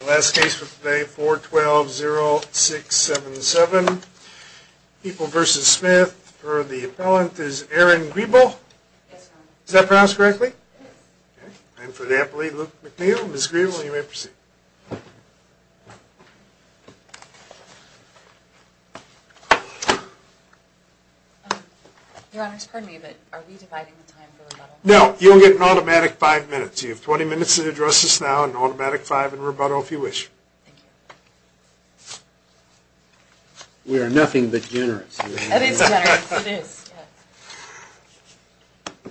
The last case for today, 4-12-0-6-7-7, People v. Smith, for the appellant is Erin Griebel. Yes, Your Honor. Is that pronounced correctly? Yes. Okay. And for the appellate, Luke McNeil. Ms. Griebel, you may proceed. Your Honor, pardon me, but are we dividing the time for rebuttal? No. You'll get an automatic five minutes. You have 20 minutes to address us now, an automatic five, and rebuttal if you wish. Thank you. We are nothing but generous. That is generous. It is. Yes.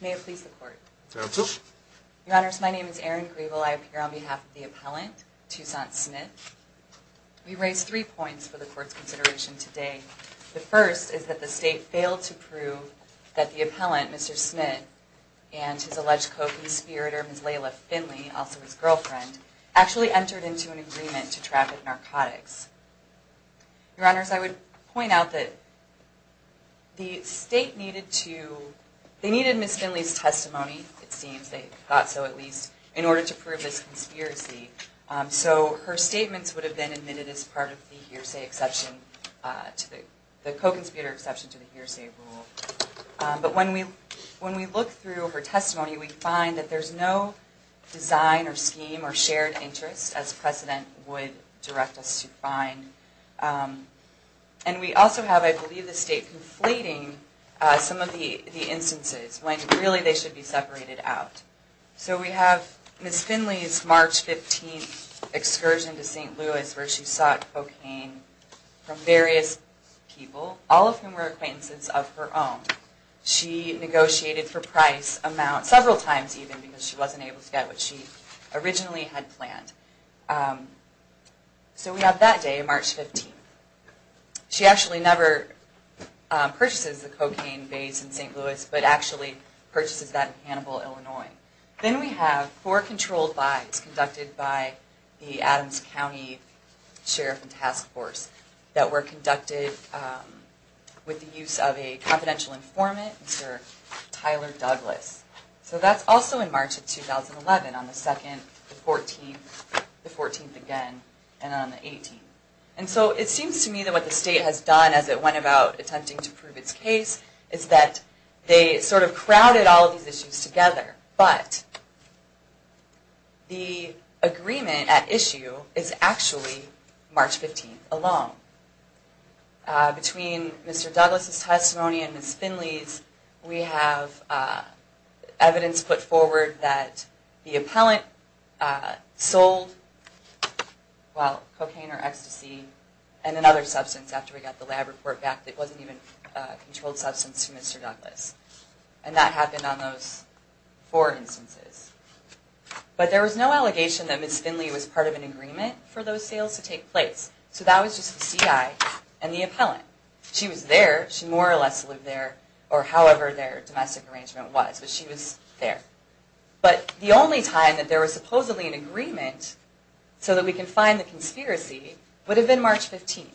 May it please the Court. Counsel. Your Honors, my name is Erin Griebel. I appear on behalf of the appellant, Toussaint Smith. We raise three points for the Court's consideration today. The first is that the State failed to prove that the appellant, Mr. Smith, and his alleged co-conspirator, Ms. Layla Finley, also his girlfriend, actually entered into an agreement to traffic narcotics. Your Honors, I would point out that the State needed to, they needed Ms. Finley's testimony, it seems, they thought so at least, in order to prove this conspiracy. So her statements would have been admitted as part of the hearsay exception, the co-conspirator exception to the hearsay rule. But when we look through her testimony, we find that there's no design or scheme or shared interest, as precedent would direct us to find. And we also have, I believe, the State conflating some of the instances, when really they should be separated out. So we have Ms. Finley's March 15th excursion to St. Louis, where she sought cocaine from various people, all of whom were acquaintances of her own. She negotiated for price, amount, several times even, because she wasn't able to get what she originally had planned. So we have that day, March 15th. She actually never purchases the cocaine base in St. Louis, but actually purchases that in Hannibal, Illinois. Then we have four controlled buys conducted by the Adams County Sheriff and Task Force that were conducted with the use of a confidential informant, Mr. Tyler Douglas. So that's also in March of 2011, on the 2nd, the 14th, the 14th again, and on the 18th. And so it seems to me that what the State has done as it went about attempting to prove its case is that they sort of crowded all of these issues together, but the agreement at issue is actually March 15th alone. Between Mr. Douglas' testimony and Ms. Finley's, we have evidence put forward that the appellant sold cocaine or ecstasy and another substance after we got the lab report back that wasn't even a controlled substance from Mr. Douglas. And that happened on those four instances. But there was no allegation that Ms. Finley was part of an agreement for those sales to take place. So that was just the C.I. and the appellant. She was there, she more or less lived there, or however their domestic arrangement was, but she was there. But the only time that there was supposedly an agreement so that we can find the conspiracy would have been March 15th.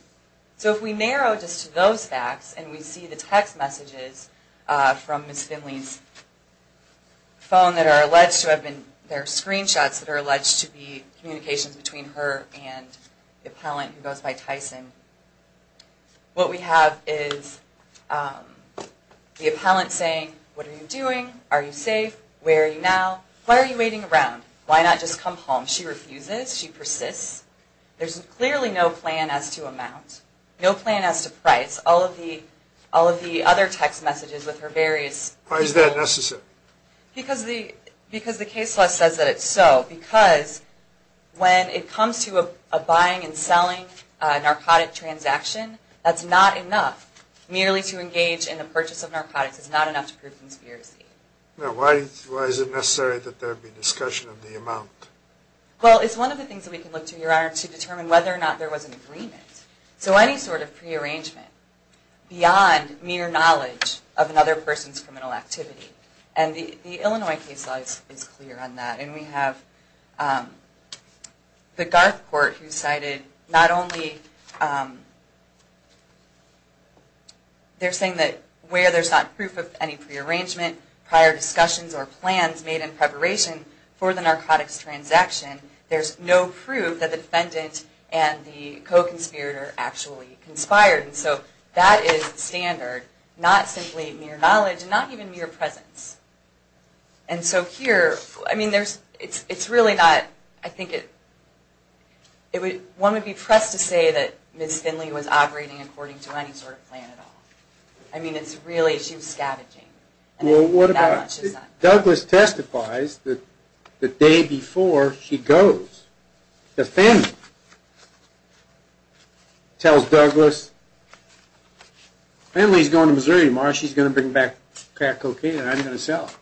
So if we narrow just to those facts and we see the text messages from Ms. Finley's phone that are alleged to have been, there are screenshots that are alleged to be communications between her and the appellant who goes by Tyson, what we have is the appellant saying, what are you doing? Are you safe? Where are you now? Why are you waiting around? Why not just come home? She refuses. She persists. There's clearly no plan as to amount. No plan as to price. All of the other text messages with her various... Why is that necessary? Because the case law says that it's so. Because when it comes to a buying and selling narcotic transaction, that's not enough. Merely to engage in the purchase of narcotics is not enough to prove conspiracy. Now why is it necessary that there be discussion of the amount? Well, it's one of the things that we can look to, Your Honor, to determine whether or not there was an agreement. So any sort of prearrangement beyond mere knowledge of another person's criminal activity. And the Illinois case law is clear on that. And we have the Garth Court who cited not only, they're saying that where there's not proof of any prearrangement, prior discussions or plans made in preparation for the narcotics transaction, there's no proof that the defendant and the co-conspirator actually conspired. And so that is standard. Not simply mere knowledge. Not even mere presence. And so here, I mean, it's really not... I think one would be pressed to say that Ms. Finley was operating according to any sort of plan at all. I mean, it's really... She was scavenging. Well, what about... Douglas testifies the day before she goes. The defendant tells Douglas, Finley's going to Missouri tomorrow. She's going to bring back crack cocaine and I'm going to sell it.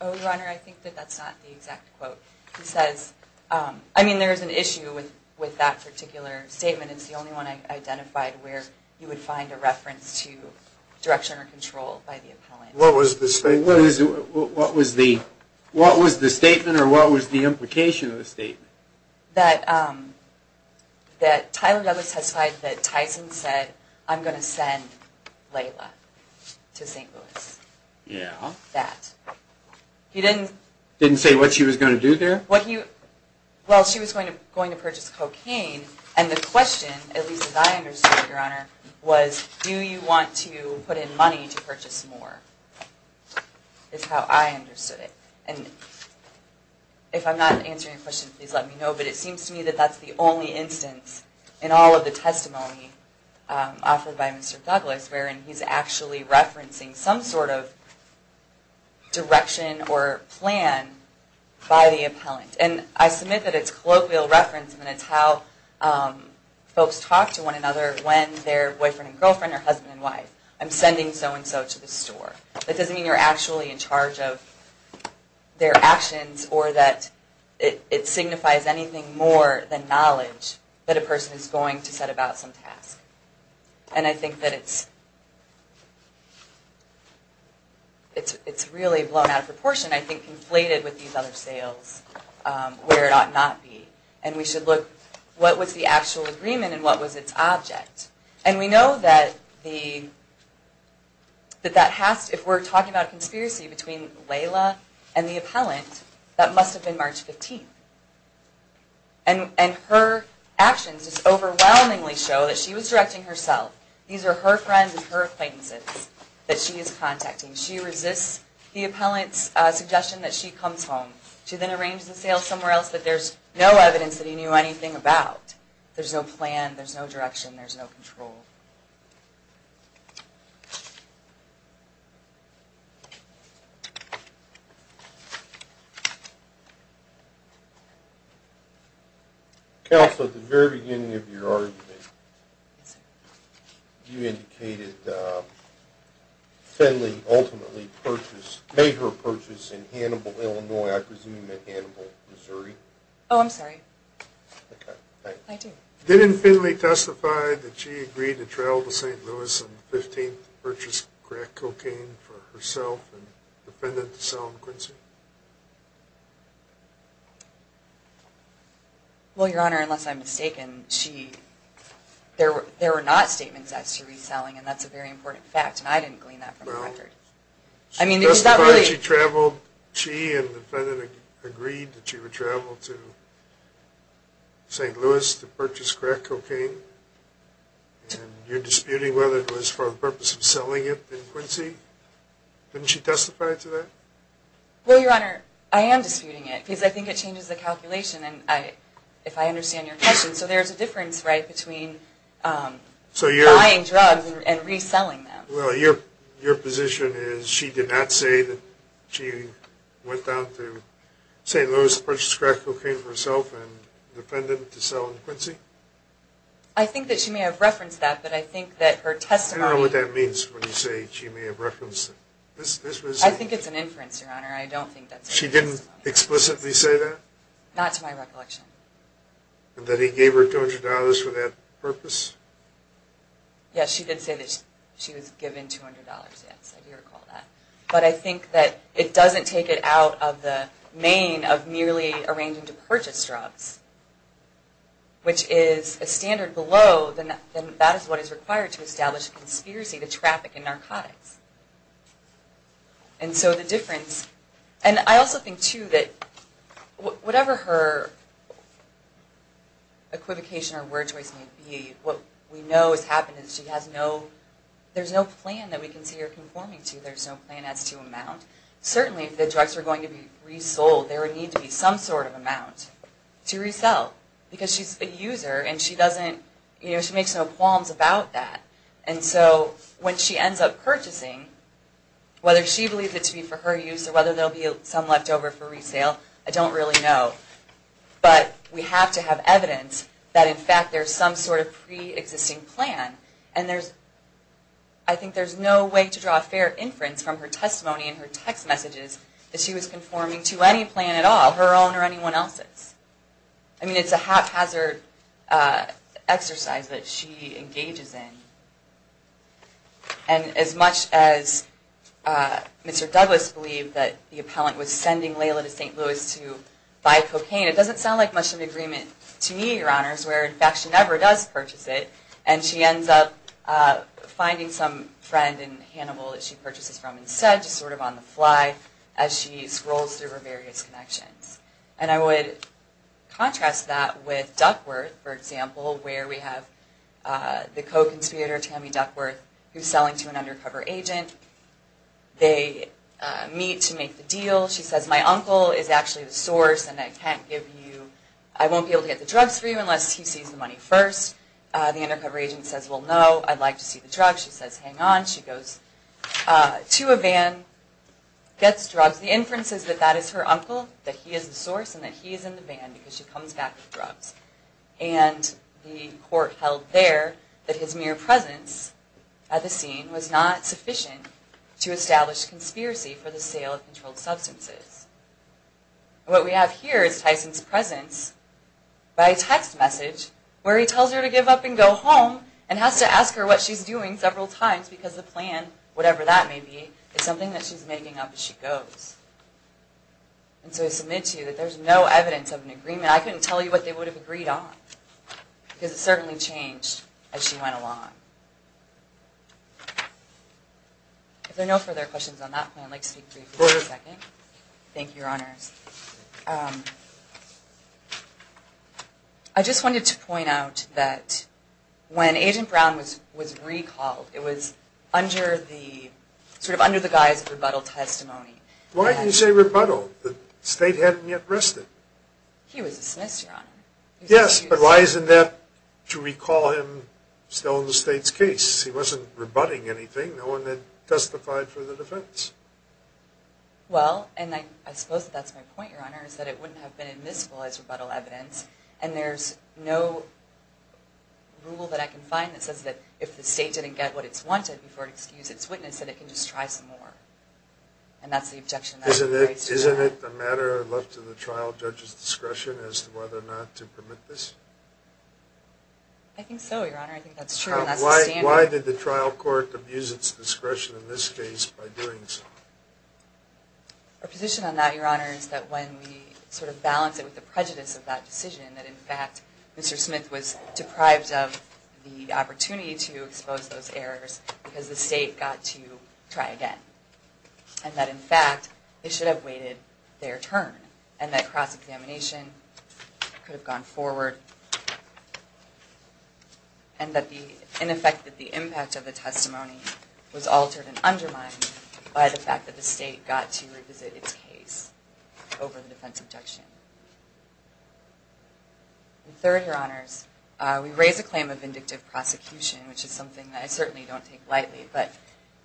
Oh, Your Honor, I think that that's not the exact quote. He says... I mean, there is an issue with that particular statement. It's the only one I identified where you would find a reference to direction or control by the appellant. What was the statement or what was the implication of the statement? That Tyler Douglas testified that Tyson said, I'm going to send Layla to St. Louis. Yeah. That. He didn't... Didn't say what she was going to do there? Well, she was going to purchase cocaine and the question, at least as I understood it, Your Honor, was do you want to put in money to purchase more? Is how I understood it. And if I'm not answering your question, please let me know, but it seems to me that that's the only instance in all of the testimony offered by Mr. Douglas wherein he's actually referencing some sort of direction or plan by the appellant. And I submit that it's colloquial reference and it's how folks talk to one another when they're boyfriend and girlfriend or husband and wife. I'm sending so-and-so to the store. It doesn't mean you're actually in charge of their actions or that it signifies anything more than knowledge that a person is going to set about some task. And I think that it's... It's really blown out of proportion, I think, conflated with these other sales where it ought not be. And we should look, what was the actual agreement and what was its object? And we know that the... That that has to... If we're talking about a conspiracy between Layla and the appellant, that must have been March 15th. And her actions just overwhelmingly show that she was directing herself. These are her friends and her acquaintances that she is contacting. She resists the appellant's suggestion that she comes home. She then arranges the sales somewhere else that there's no evidence that he knew anything about. There's no plan. There's no direction. There's no control. Counsel, at the very beginning of your argument, you indicated Finley ultimately purchased, made her purchase in Hannibal, Illinois. I presume you meant Hannibal, Missouri. Oh, I'm sorry. Okay, thanks. I do. Didn't Finley testify that she agreed to travel to St. Louis on the 15th to purchase crack cocaine for herself and defendant, Salim Quincy? Well, Your Honor, unless I'm mistaken, she... There were not statements as to reselling, and that's a very important fact, and I didn't glean that from the record. Well... I mean, is that really... She testified she traveled... She and the defendant agreed that she would travel to St. Louis to purchase crack cocaine. And you're disputing whether it was for the purpose of selling it to Quincy? Couldn't she testify to that? Well, Your Honor, I am disputing it. Because I think it changes the calculation, and if I understand your question, so there's a difference, right, between buying drugs and reselling them. Well, your position is she did not say that she went down to St. Louis to purchase crack cocaine for herself and defendant to Salim Quincy? I think that she may have referenced that, but I think that her testimony... I don't know what that means when you say she may have referenced it. I think it's an inference, Your Honor. She didn't explicitly say that? Not to my recollection. That he gave her $200 for that purpose? Yes, she did say that she was given $200, yes, I do recall that. But I think that it doesn't take it out of the main of merely arranging to purchase drugs, which is a standard below, then that is what is required to establish a conspiracy to traffic in narcotics. And so the difference... And I also think, too, that whatever her equivocation or word choice may be, what we know has happened is she has no... There's no plan that we can see her conforming to. There's no plan as to amount. Certainly, if the drugs are going to be resold, there would need to be some sort of amount to resell, because she's a user and she doesn't... She makes no qualms about that. And so when she ends up purchasing, whether she believes it to be for her use or whether there will be some left over for resale, I don't really know. But we have to have evidence that, in fact, there's some sort of pre-existing plan. And there's... I think there's no way to draw a fair inference from her testimony and her text messages that she was conforming to any plan at all, her own or anyone else's. I mean, it's a haphazard exercise that she engages in. And as much as Mr. Douglas believed that the appellant was sending Layla to St. Louis to buy cocaine, it doesn't sound like much of an agreement to me, Your Honors, where, in fact, she never does purchase it. And she ends up finding some friend in Hannibal that she purchases from instead, just sort of on the fly, as she scrolls through her various connections. And I would contrast that with Duckworth, for example, where we have the co-conspirator, Tammy Duckworth, who's selling to an undercover agent. They meet to make the deal. She says, my uncle is actually the source and I can't give you... I won't be able to get the drugs for you unless he sees the money first. The undercover agent says, well, no, I'd like to see the drugs. She says, hang on. She goes to a van, gets drugs. The inference is that that is her uncle, that he is the source, and that he is in the van because she comes back with drugs. And the court held there that his mere presence at the scene was not sufficient to establish conspiracy for the sale of controlled substances. What we have here is Tyson's presence by text message where he tells her to give up and go home and has to ask her what she's doing several times just because the plan, whatever that may be, is something that she's making up as she goes. And so I submit to you that there's no evidence of an agreement. I couldn't tell you what they would have agreed on because it certainly changed as she went along. If there are no further questions on that plan, I'd like to speak to you for just a second. Thank you, Your Honors. I just wanted to point out that when Agent Brown was recalled, it was sort of under the guise of rebuttal testimony. Why do you say rebuttal? The state hadn't yet rested. He was dismissed, Your Honor. Yes, but why isn't that to recall him still in the state's case? He wasn't rebutting anything, no one had testified for the defense. Well, and I suppose that's my point, Your Honor, is that it wouldn't have been admissible as rebuttal evidence, and there's no rule that I can find that says that if the state didn't get what it's wanted before it excused its witness, that it can just try some more. And that's the objection that I raise to that. Isn't it a matter left to the trial judge's discretion as to whether or not to permit this? I think so, Your Honor. I think that's true and that's the standard. Why did the trial court abuse its discretion in this case by doing so? Our position on that, Your Honor, is that when we sort of balance it with the prejudice of that decision, that, in fact, Mr. Smith was deprived of the opportunity to expose those errors because the state got to try again. And that, in fact, they should have waited their turn, and that cross-examination could have gone forward. And that the impact of the testimony was altered and undermined by the fact that the state got to revisit its case over the defense objection. And third, Your Honors, we raise a claim of vindictive prosecution, which is something that I certainly don't take lightly, but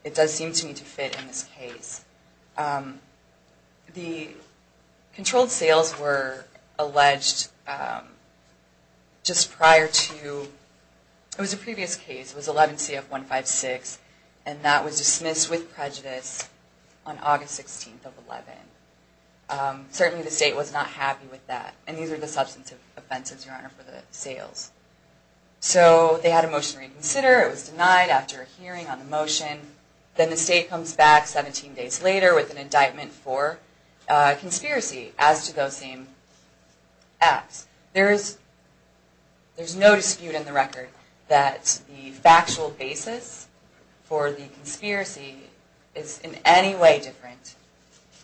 it does seem to me to fit in this case. The controlled sales were alleged just prior to, it was a previous case, it was 11 CF 156, and that was dismissed with prejudice on August 16th of 11. Certainly the state was not happy with that, and these are the substantive offenses, Your Honor, for the sales. So they had a motion to reconsider. It was denied after a hearing on the motion. Then the state comes back 17 days later with an indictment for conspiracy as to those same acts. There is no dispute in the record that the factual basis for the conspiracy is in any way different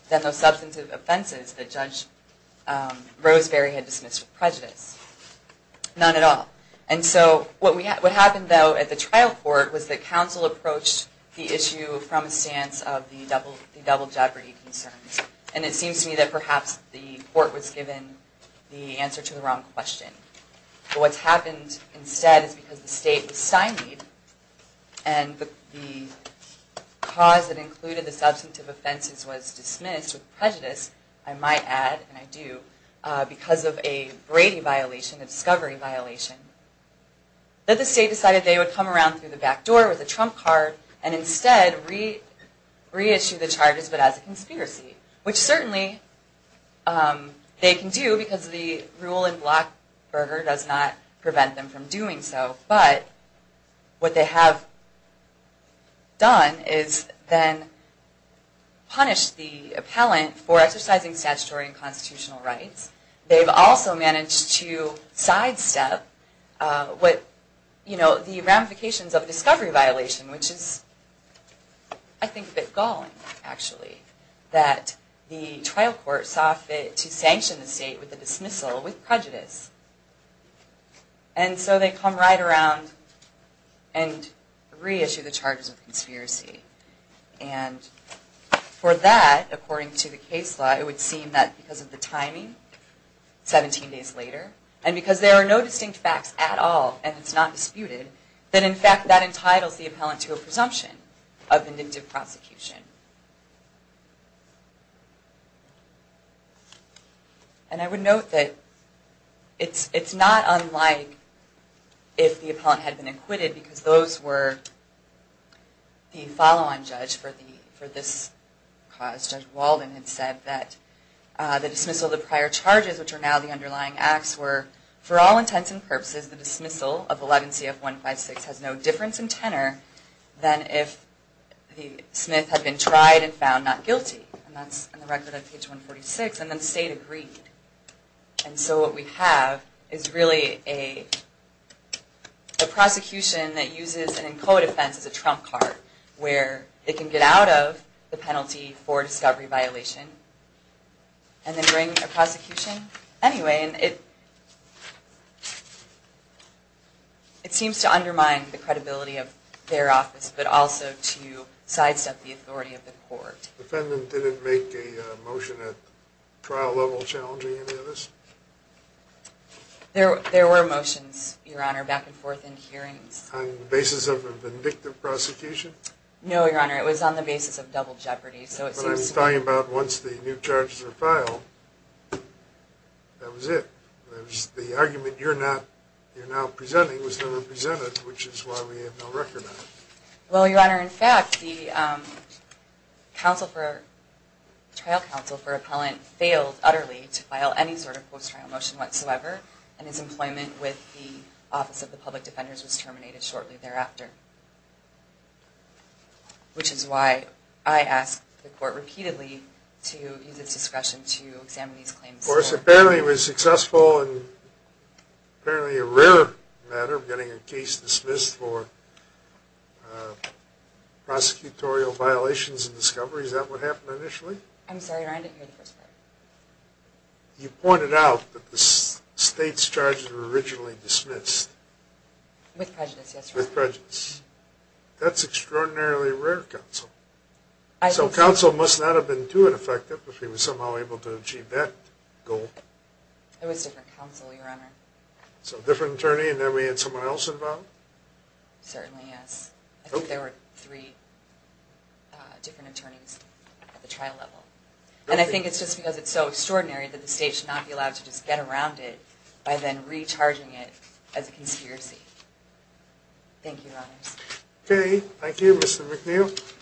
than those substantive offenses that Judge Roseberry had dismissed with prejudice. None at all. And so what happened, though, at the trial court was that counsel approached the issue from a stance of the double jeopardy concerns. And it seems to me that perhaps the court was given the answer to the wrong question. What's happened instead is because the state was stymied and the cause that included the substantive offenses was dismissed with prejudice, I might add, and I do, because of a Brady violation, a discovery violation, that the state decided they would come around through the back door with a trump card and instead reissue the charges but as a conspiracy, which certainly they can do because the rule in Blockburger does not prevent them from doing so. But what they have done is then punish the appellant for exercising statutory and constitutional rights. They've also managed to sidestep the ramifications of a discovery violation, which is, I think, a bit galling, actually, that the trial court sought to sanction the state with a dismissal with prejudice. And so they come right around and reissue the charges of conspiracy. And for that, according to the case law, it would seem that because of the timing, 17 days later, and because there are no distinct facts at all and it's not disputed, that in fact that entitles the appellant to a presumption of indicative prosecution. And I would note that it's not unlike if the appellant had been acquitted because those were the follow-on judge for this cause. Judge Walden had said that the dismissal of the prior charges, which are now the underlying acts, were, for all intents and purposes, the dismissal of 11 CF 156 has no difference in tenor than if the smith had been tried and found not guilty. And that's in the record of page 146. And then the state agreed. And so what we have is really a prosecution that uses an in quo defense as a trump card, where it can get out of the penalty for discovery violation and then bring a prosecution anyway. And it seems to undermine the credibility of their office, but also to sidestep the authority of the court. The defendant didn't make a motion at trial level challenging any of this? There were motions, Your Honor, back and forth in hearings. On the basis of a vindictive prosecution? No, Your Honor, it was on the basis of double jeopardy. What I'm talking about, once the new charges are filed, that was it. The argument you're now presenting was never presented, which is why we have no record on it. Well, Your Honor, in fact, the trial counsel for appellant failed utterly to file any sort of post-trial motion whatsoever, and his employment with the Office of the Public Defenders was terminated shortly thereafter. Which is why I asked the court repeatedly to use its discretion to examine these claims. Of course, apparently it was successful, and apparently a rare matter of getting a case dismissed for prosecutorial violations and discovery. Is that what happened initially? I'm sorry, Your Honor, I didn't hear the first part. You pointed out that the state's charges were originally dismissed. With prejudice, yes, Your Honor. With prejudice. That's extraordinarily rare, counsel. So counsel must not have been too ineffective if he was somehow able to achieve that goal. It was different counsel, Your Honor. So different attorney, and then we had someone else involved? Certainly, yes. I think there were three different attorneys at the trial level. And I think it's just because it's so extraordinary that the state should not be allowed to just get around it by then recharging it as a conspiracy. Thank you, Your Honors. Okay, thank you, Mr. McNeil.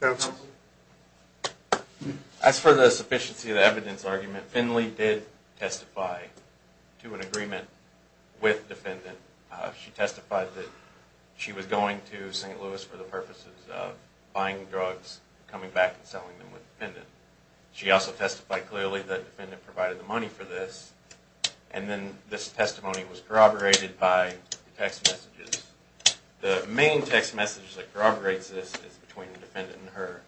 Counsel. As for the sufficiency of the evidence argument, Finley did testify to an agreement with defendant. She testified that she was going to St. Louis for the purposes of buying drugs, coming back, and selling them with defendant. She also testified clearly that defendant provided the money for this, and then this testimony was corroborated by text messages. The main text message that corroborates this is between the defendant and her.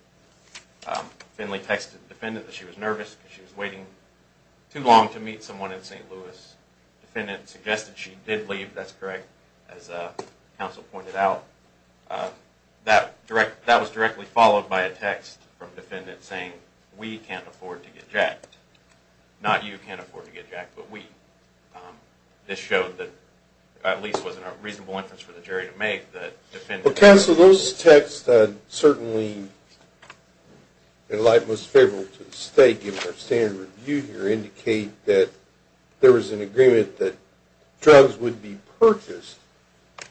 Finley texted defendant that she was nervous because she was waiting too long to meet someone in St. Louis. Defendant suggested she did leave, that's correct, as counsel pointed out. That was directly followed by a text from defendant saying, we can't afford to get jacked. Not you can't afford to get jacked, but we. This showed that at least it was a reasonable inference for the jury to make that defendant. Counsel, those texts certainly, in light most favorable to the state, given our standard review here, indicate that there was an agreement that drugs would be purchased,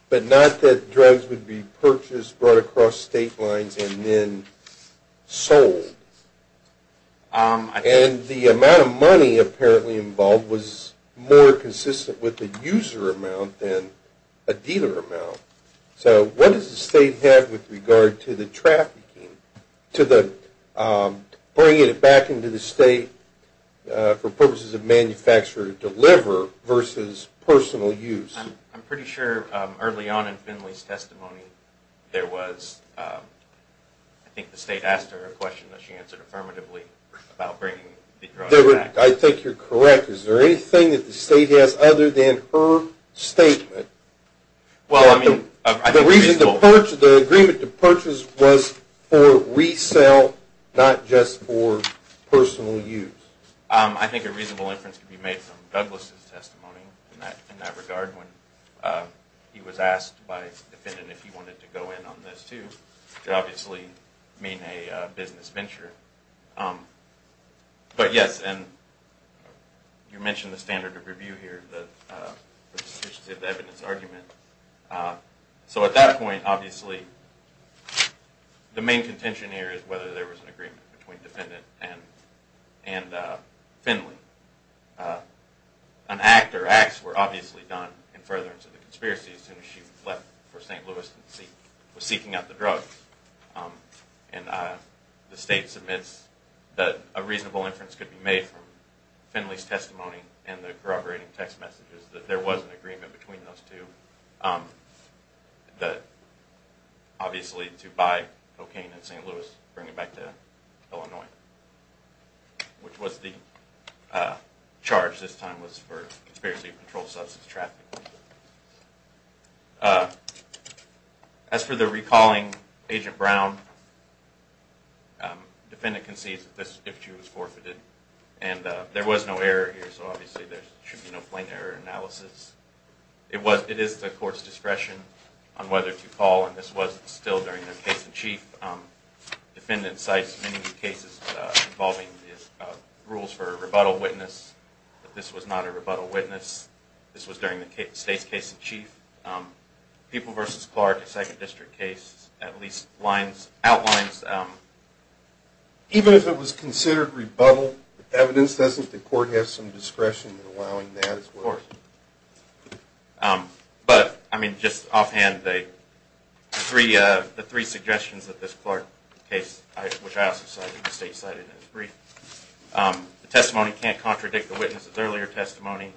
but not that drugs would be purchased, brought across state lines, and then sold. And the amount of money apparently involved was more consistent with the user amount than a dealer amount. So what does the state have with regard to the trafficking, to bringing it back into the state for purposes of manufacture to deliver versus personal use? I'm pretty sure early on in Finley's testimony, I think the state asked her a question that she answered affirmatively about bringing the drugs back. I think you're correct. Is there anything that the state has other than her statement that the agreement to purchase was for resale, not just for personal use? I think a reasonable inference could be made from Douglas' testimony in that regard. He was asked by the defendant if he wanted to go in on this too. It could obviously mean a business venture. But yes, and you mentioned the standard of review here, the sufficiency of evidence argument. So at that point, obviously, the main contention here is whether there was an agreement between defendant and Finley. An act or acts were obviously done in furtherance of the conspiracy as soon as she left for St. Louis and was seeking out the drugs. And the state submits that a reasonable inference could be made from Finley's testimony and the corroborating text messages that there was an agreement between those two, obviously to buy cocaine in St. Louis and bring it back to Illinois. Which was the charge this time was for conspiracy to control substance trafficking. As for the recalling Agent Brown, the defendant concedes that this issue was forfeited. And there was no error here, so obviously there should be no plain error analysis. It is the court's discretion on whether to call, and this was still during their case in chief. The defendant cites many cases involving rules for rebuttal witness, but this was not a rebuttal witness. This was during the state's case in chief. People v. Clark, a 2nd District case, at least outlines... Even if it was considered rebuttal evidence, doesn't the court have some discretion in allowing that as well? Of course. But, I mean, just offhand, the three suggestions that this Clark case, which I also cited, the state cited in its brief. The testimony can't contradict the witness's earlier testimony.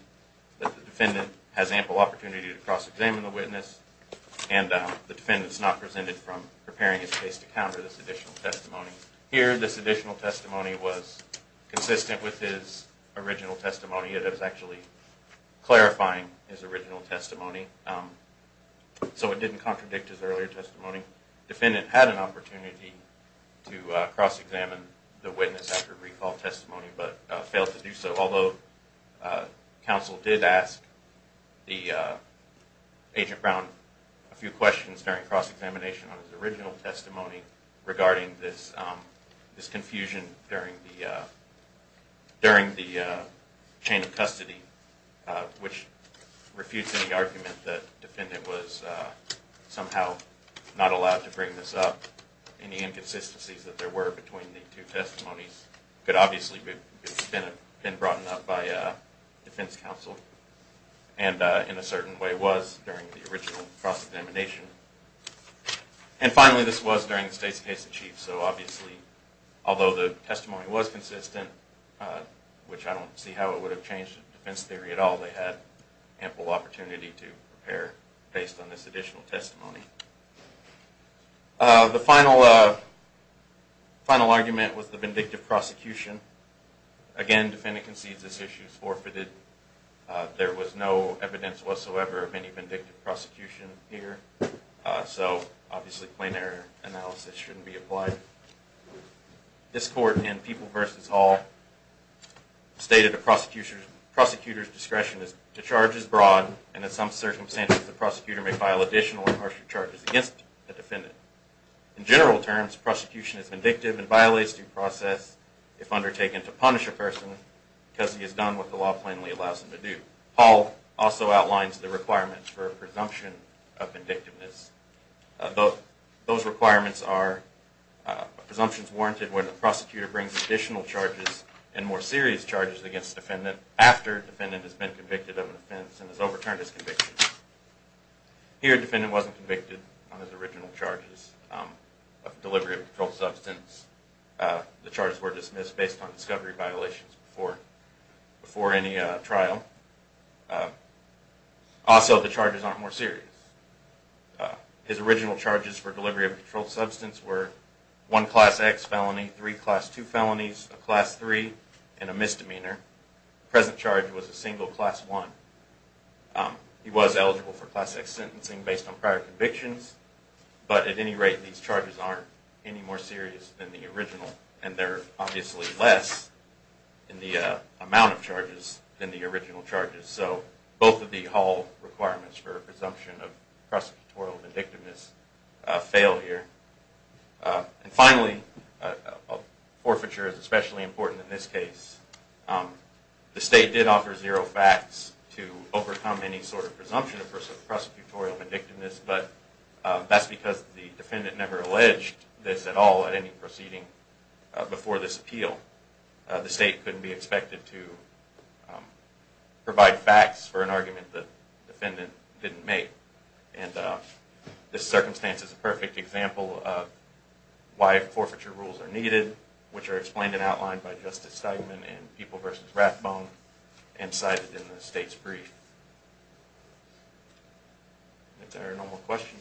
The defendant has ample opportunity to cross-examine the witness. And the defendant's not presented from preparing his case to counter this additional testimony. Here, this additional testimony was consistent with his original testimony. It is actually clarifying his original testimony, so it didn't contradict his earlier testimony. The defendant had an opportunity to cross-examine the witness after recall testimony, but failed to do so. Although, counsel did ask the agent Brown a few questions during cross-examination on his original testimony regarding this confusion during the chain of custody, which refutes any argument that the defendant was somehow not allowed to bring this up. Any inconsistencies that there were between the two testimonies could obviously have been brought up by defense counsel, and in a certain way was during the original cross-examination. And finally, this was during the state's case in chief, so obviously, although the testimony was consistent, which I don't see how it would have changed defense theory at all, they had ample opportunity to prepare based on this additional testimony. The final argument was the vindictive prosecution. Again, the defendant concedes this issue is forfeited. There was no evidence whatsoever of any vindictive prosecution here, so obviously, plain error analysis shouldn't be applied. This court in People v. Hall stated a prosecutor's discretion to charge as broad, and in some circumstances, the prosecutor may file additional or harsher charges against the defendant. In general terms, prosecution is vindictive and violates due process if undertaken to punish a person because he has done what the law plainly allows him to do. Hall also outlines the requirements for a presumption of vindictiveness. Those requirements are presumptions warranted when the prosecutor brings additional charges and more serious charges against the defendant after the defendant has been convicted of an offense and has overturned his conviction. Here, the defendant wasn't convicted on his original charges of delivery of controlled substance. The charges were dismissed based on discovery violations before any trial. Also, the charges aren't more serious. His original charges for delivery of controlled substance were one Class X felony, three Class II felonies, a Class III, and a misdemeanor. The present charge was a single Class I. He was eligible for Class X sentencing based on prior convictions, but at any rate, these charges aren't any more serious than the original, and they're obviously less in the amount of charges than the original charges. So both of the Hall requirements for a presumption of prosecutorial vindictiveness fail here. And finally, forfeiture is especially important in this case. The state did offer zero facts to overcome any sort of presumption of prosecutorial vindictiveness, but that's because the defendant never alleged this at all at any proceeding before this appeal. The state couldn't be expected to provide facts for an argument the defendant didn't make. And this circumstance is a perfect example of why forfeiture rules are needed, which are explained and outlined by Justice Steigman in People v. Rathbone and cited in the state's brief. If there are no more questions.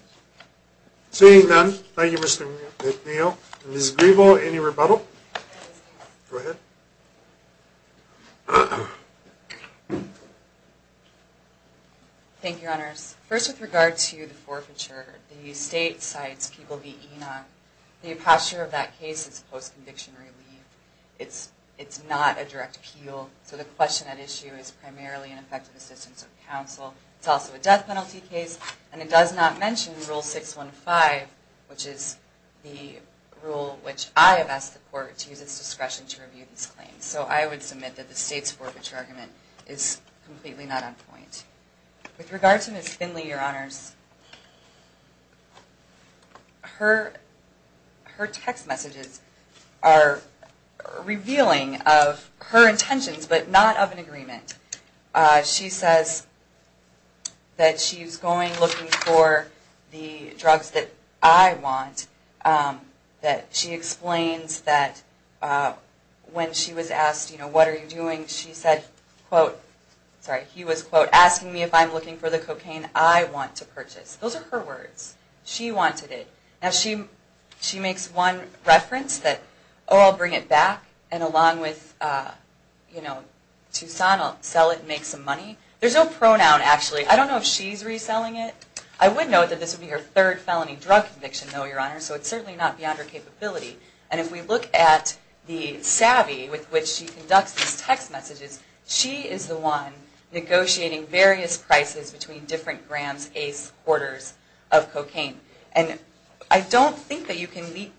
Seeing none, thank you, Mr. McNeil. Ms. Griebel, any rebuttal? Go ahead. Thank you, Your Honors. First, with regard to the forfeiture, the state cites People v. Enoch. The posture of that case is post-conviction relief. It's not a direct appeal, so the question at issue is primarily an effective assistance of counsel. It's also a death penalty case, and it does not mention Rule 615, which is the rule which I have asked the court to use its discretion to review these claims. So I would submit that the state's forfeiture argument is completely not on point. With regard to Ms. Finley, Your Honors, her text messages are revealing of her intentions, but not of an agreement. She says that she's going looking for the drugs that I want, that she explains that when she was asked, you know, what are you doing, she said, quote, sorry, he was, quote, asking me if I'm looking for the cocaine I want to purchase. Those are her words. She wanted it. Now, she makes one reference that, oh, I'll bring it back, and along with, you know, Tucson, I'll sell it and make some money. There's no pronoun, actually. I don't know if she's reselling it. I would note that this would be her third felony drug conviction, though, Your Honors, so it's certainly not beyond her capability. And if we look at the savvy with which she conducts these text messages, she is the one negotiating various prices between different grams, aces, quarters of cocaine. And I don't think that you can leap,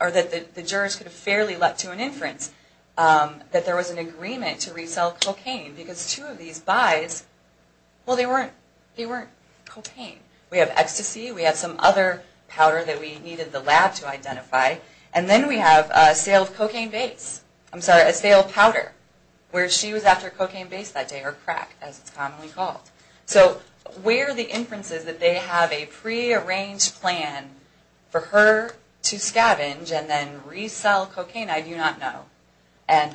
or that the jurors could have fairly leapt to an inference that there was an agreement to resell cocaine, because two of these buys, well, they weren't cocaine. We have ecstasy. We have some other powder that we needed the lab to identify. And then we have a sale of cocaine base. I'm sorry, a sale of powder, where she was after cocaine base that day, or crack, as it's commonly called. So where the inference is that they have a prearranged plan for her to scavenge and then resell cocaine, I do not know. And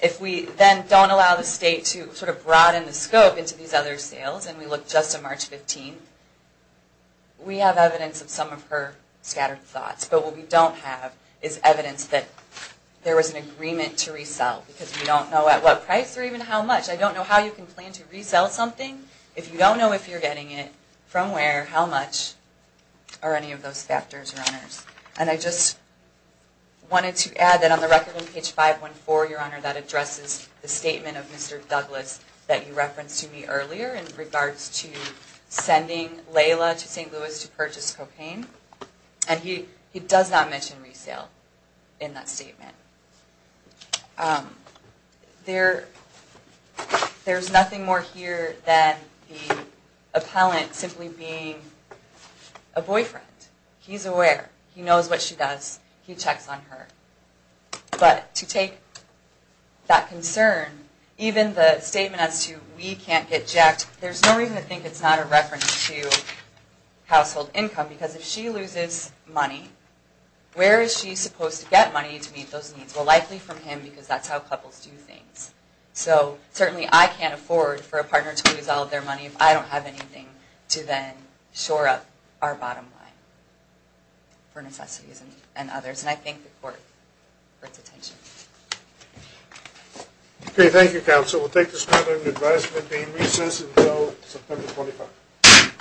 if we then don't allow the state to sort of broaden the scope into these other sales, and we look just to March 15th, we have evidence of some of her scattered thoughts. But what we don't have is evidence that there was an agreement to resell, because we don't know at what price or even how much. I don't know how you can plan to resell something if you don't know if you're getting it, from where, how much, or any of those factors or others. And I just wanted to add that on the record on page 514, Your Honor, that addresses the statement of Mr. Douglas that you referenced to me earlier in regards to sending Layla to St. Louis to purchase cocaine. And he does not mention resale in that statement. There's nothing more here than the appellant simply being a boyfriend. He's aware. He knows what she does. He checks on her. But to take that concern, even the statement as to we can't get jacked, there's no reason to think it's not a reference to household income, because if she loses money, where is she supposed to get money to meet those needs? Well, likely from him, because that's how couples do things. So certainly I can't afford for a partner to lose all of their money if I don't have anything to then shore up our bottom line for necessities and others. And I thank the Court for its attention. Okay. Thank you, Counsel. We'll take this matter into advisement, being recessed until September 25th.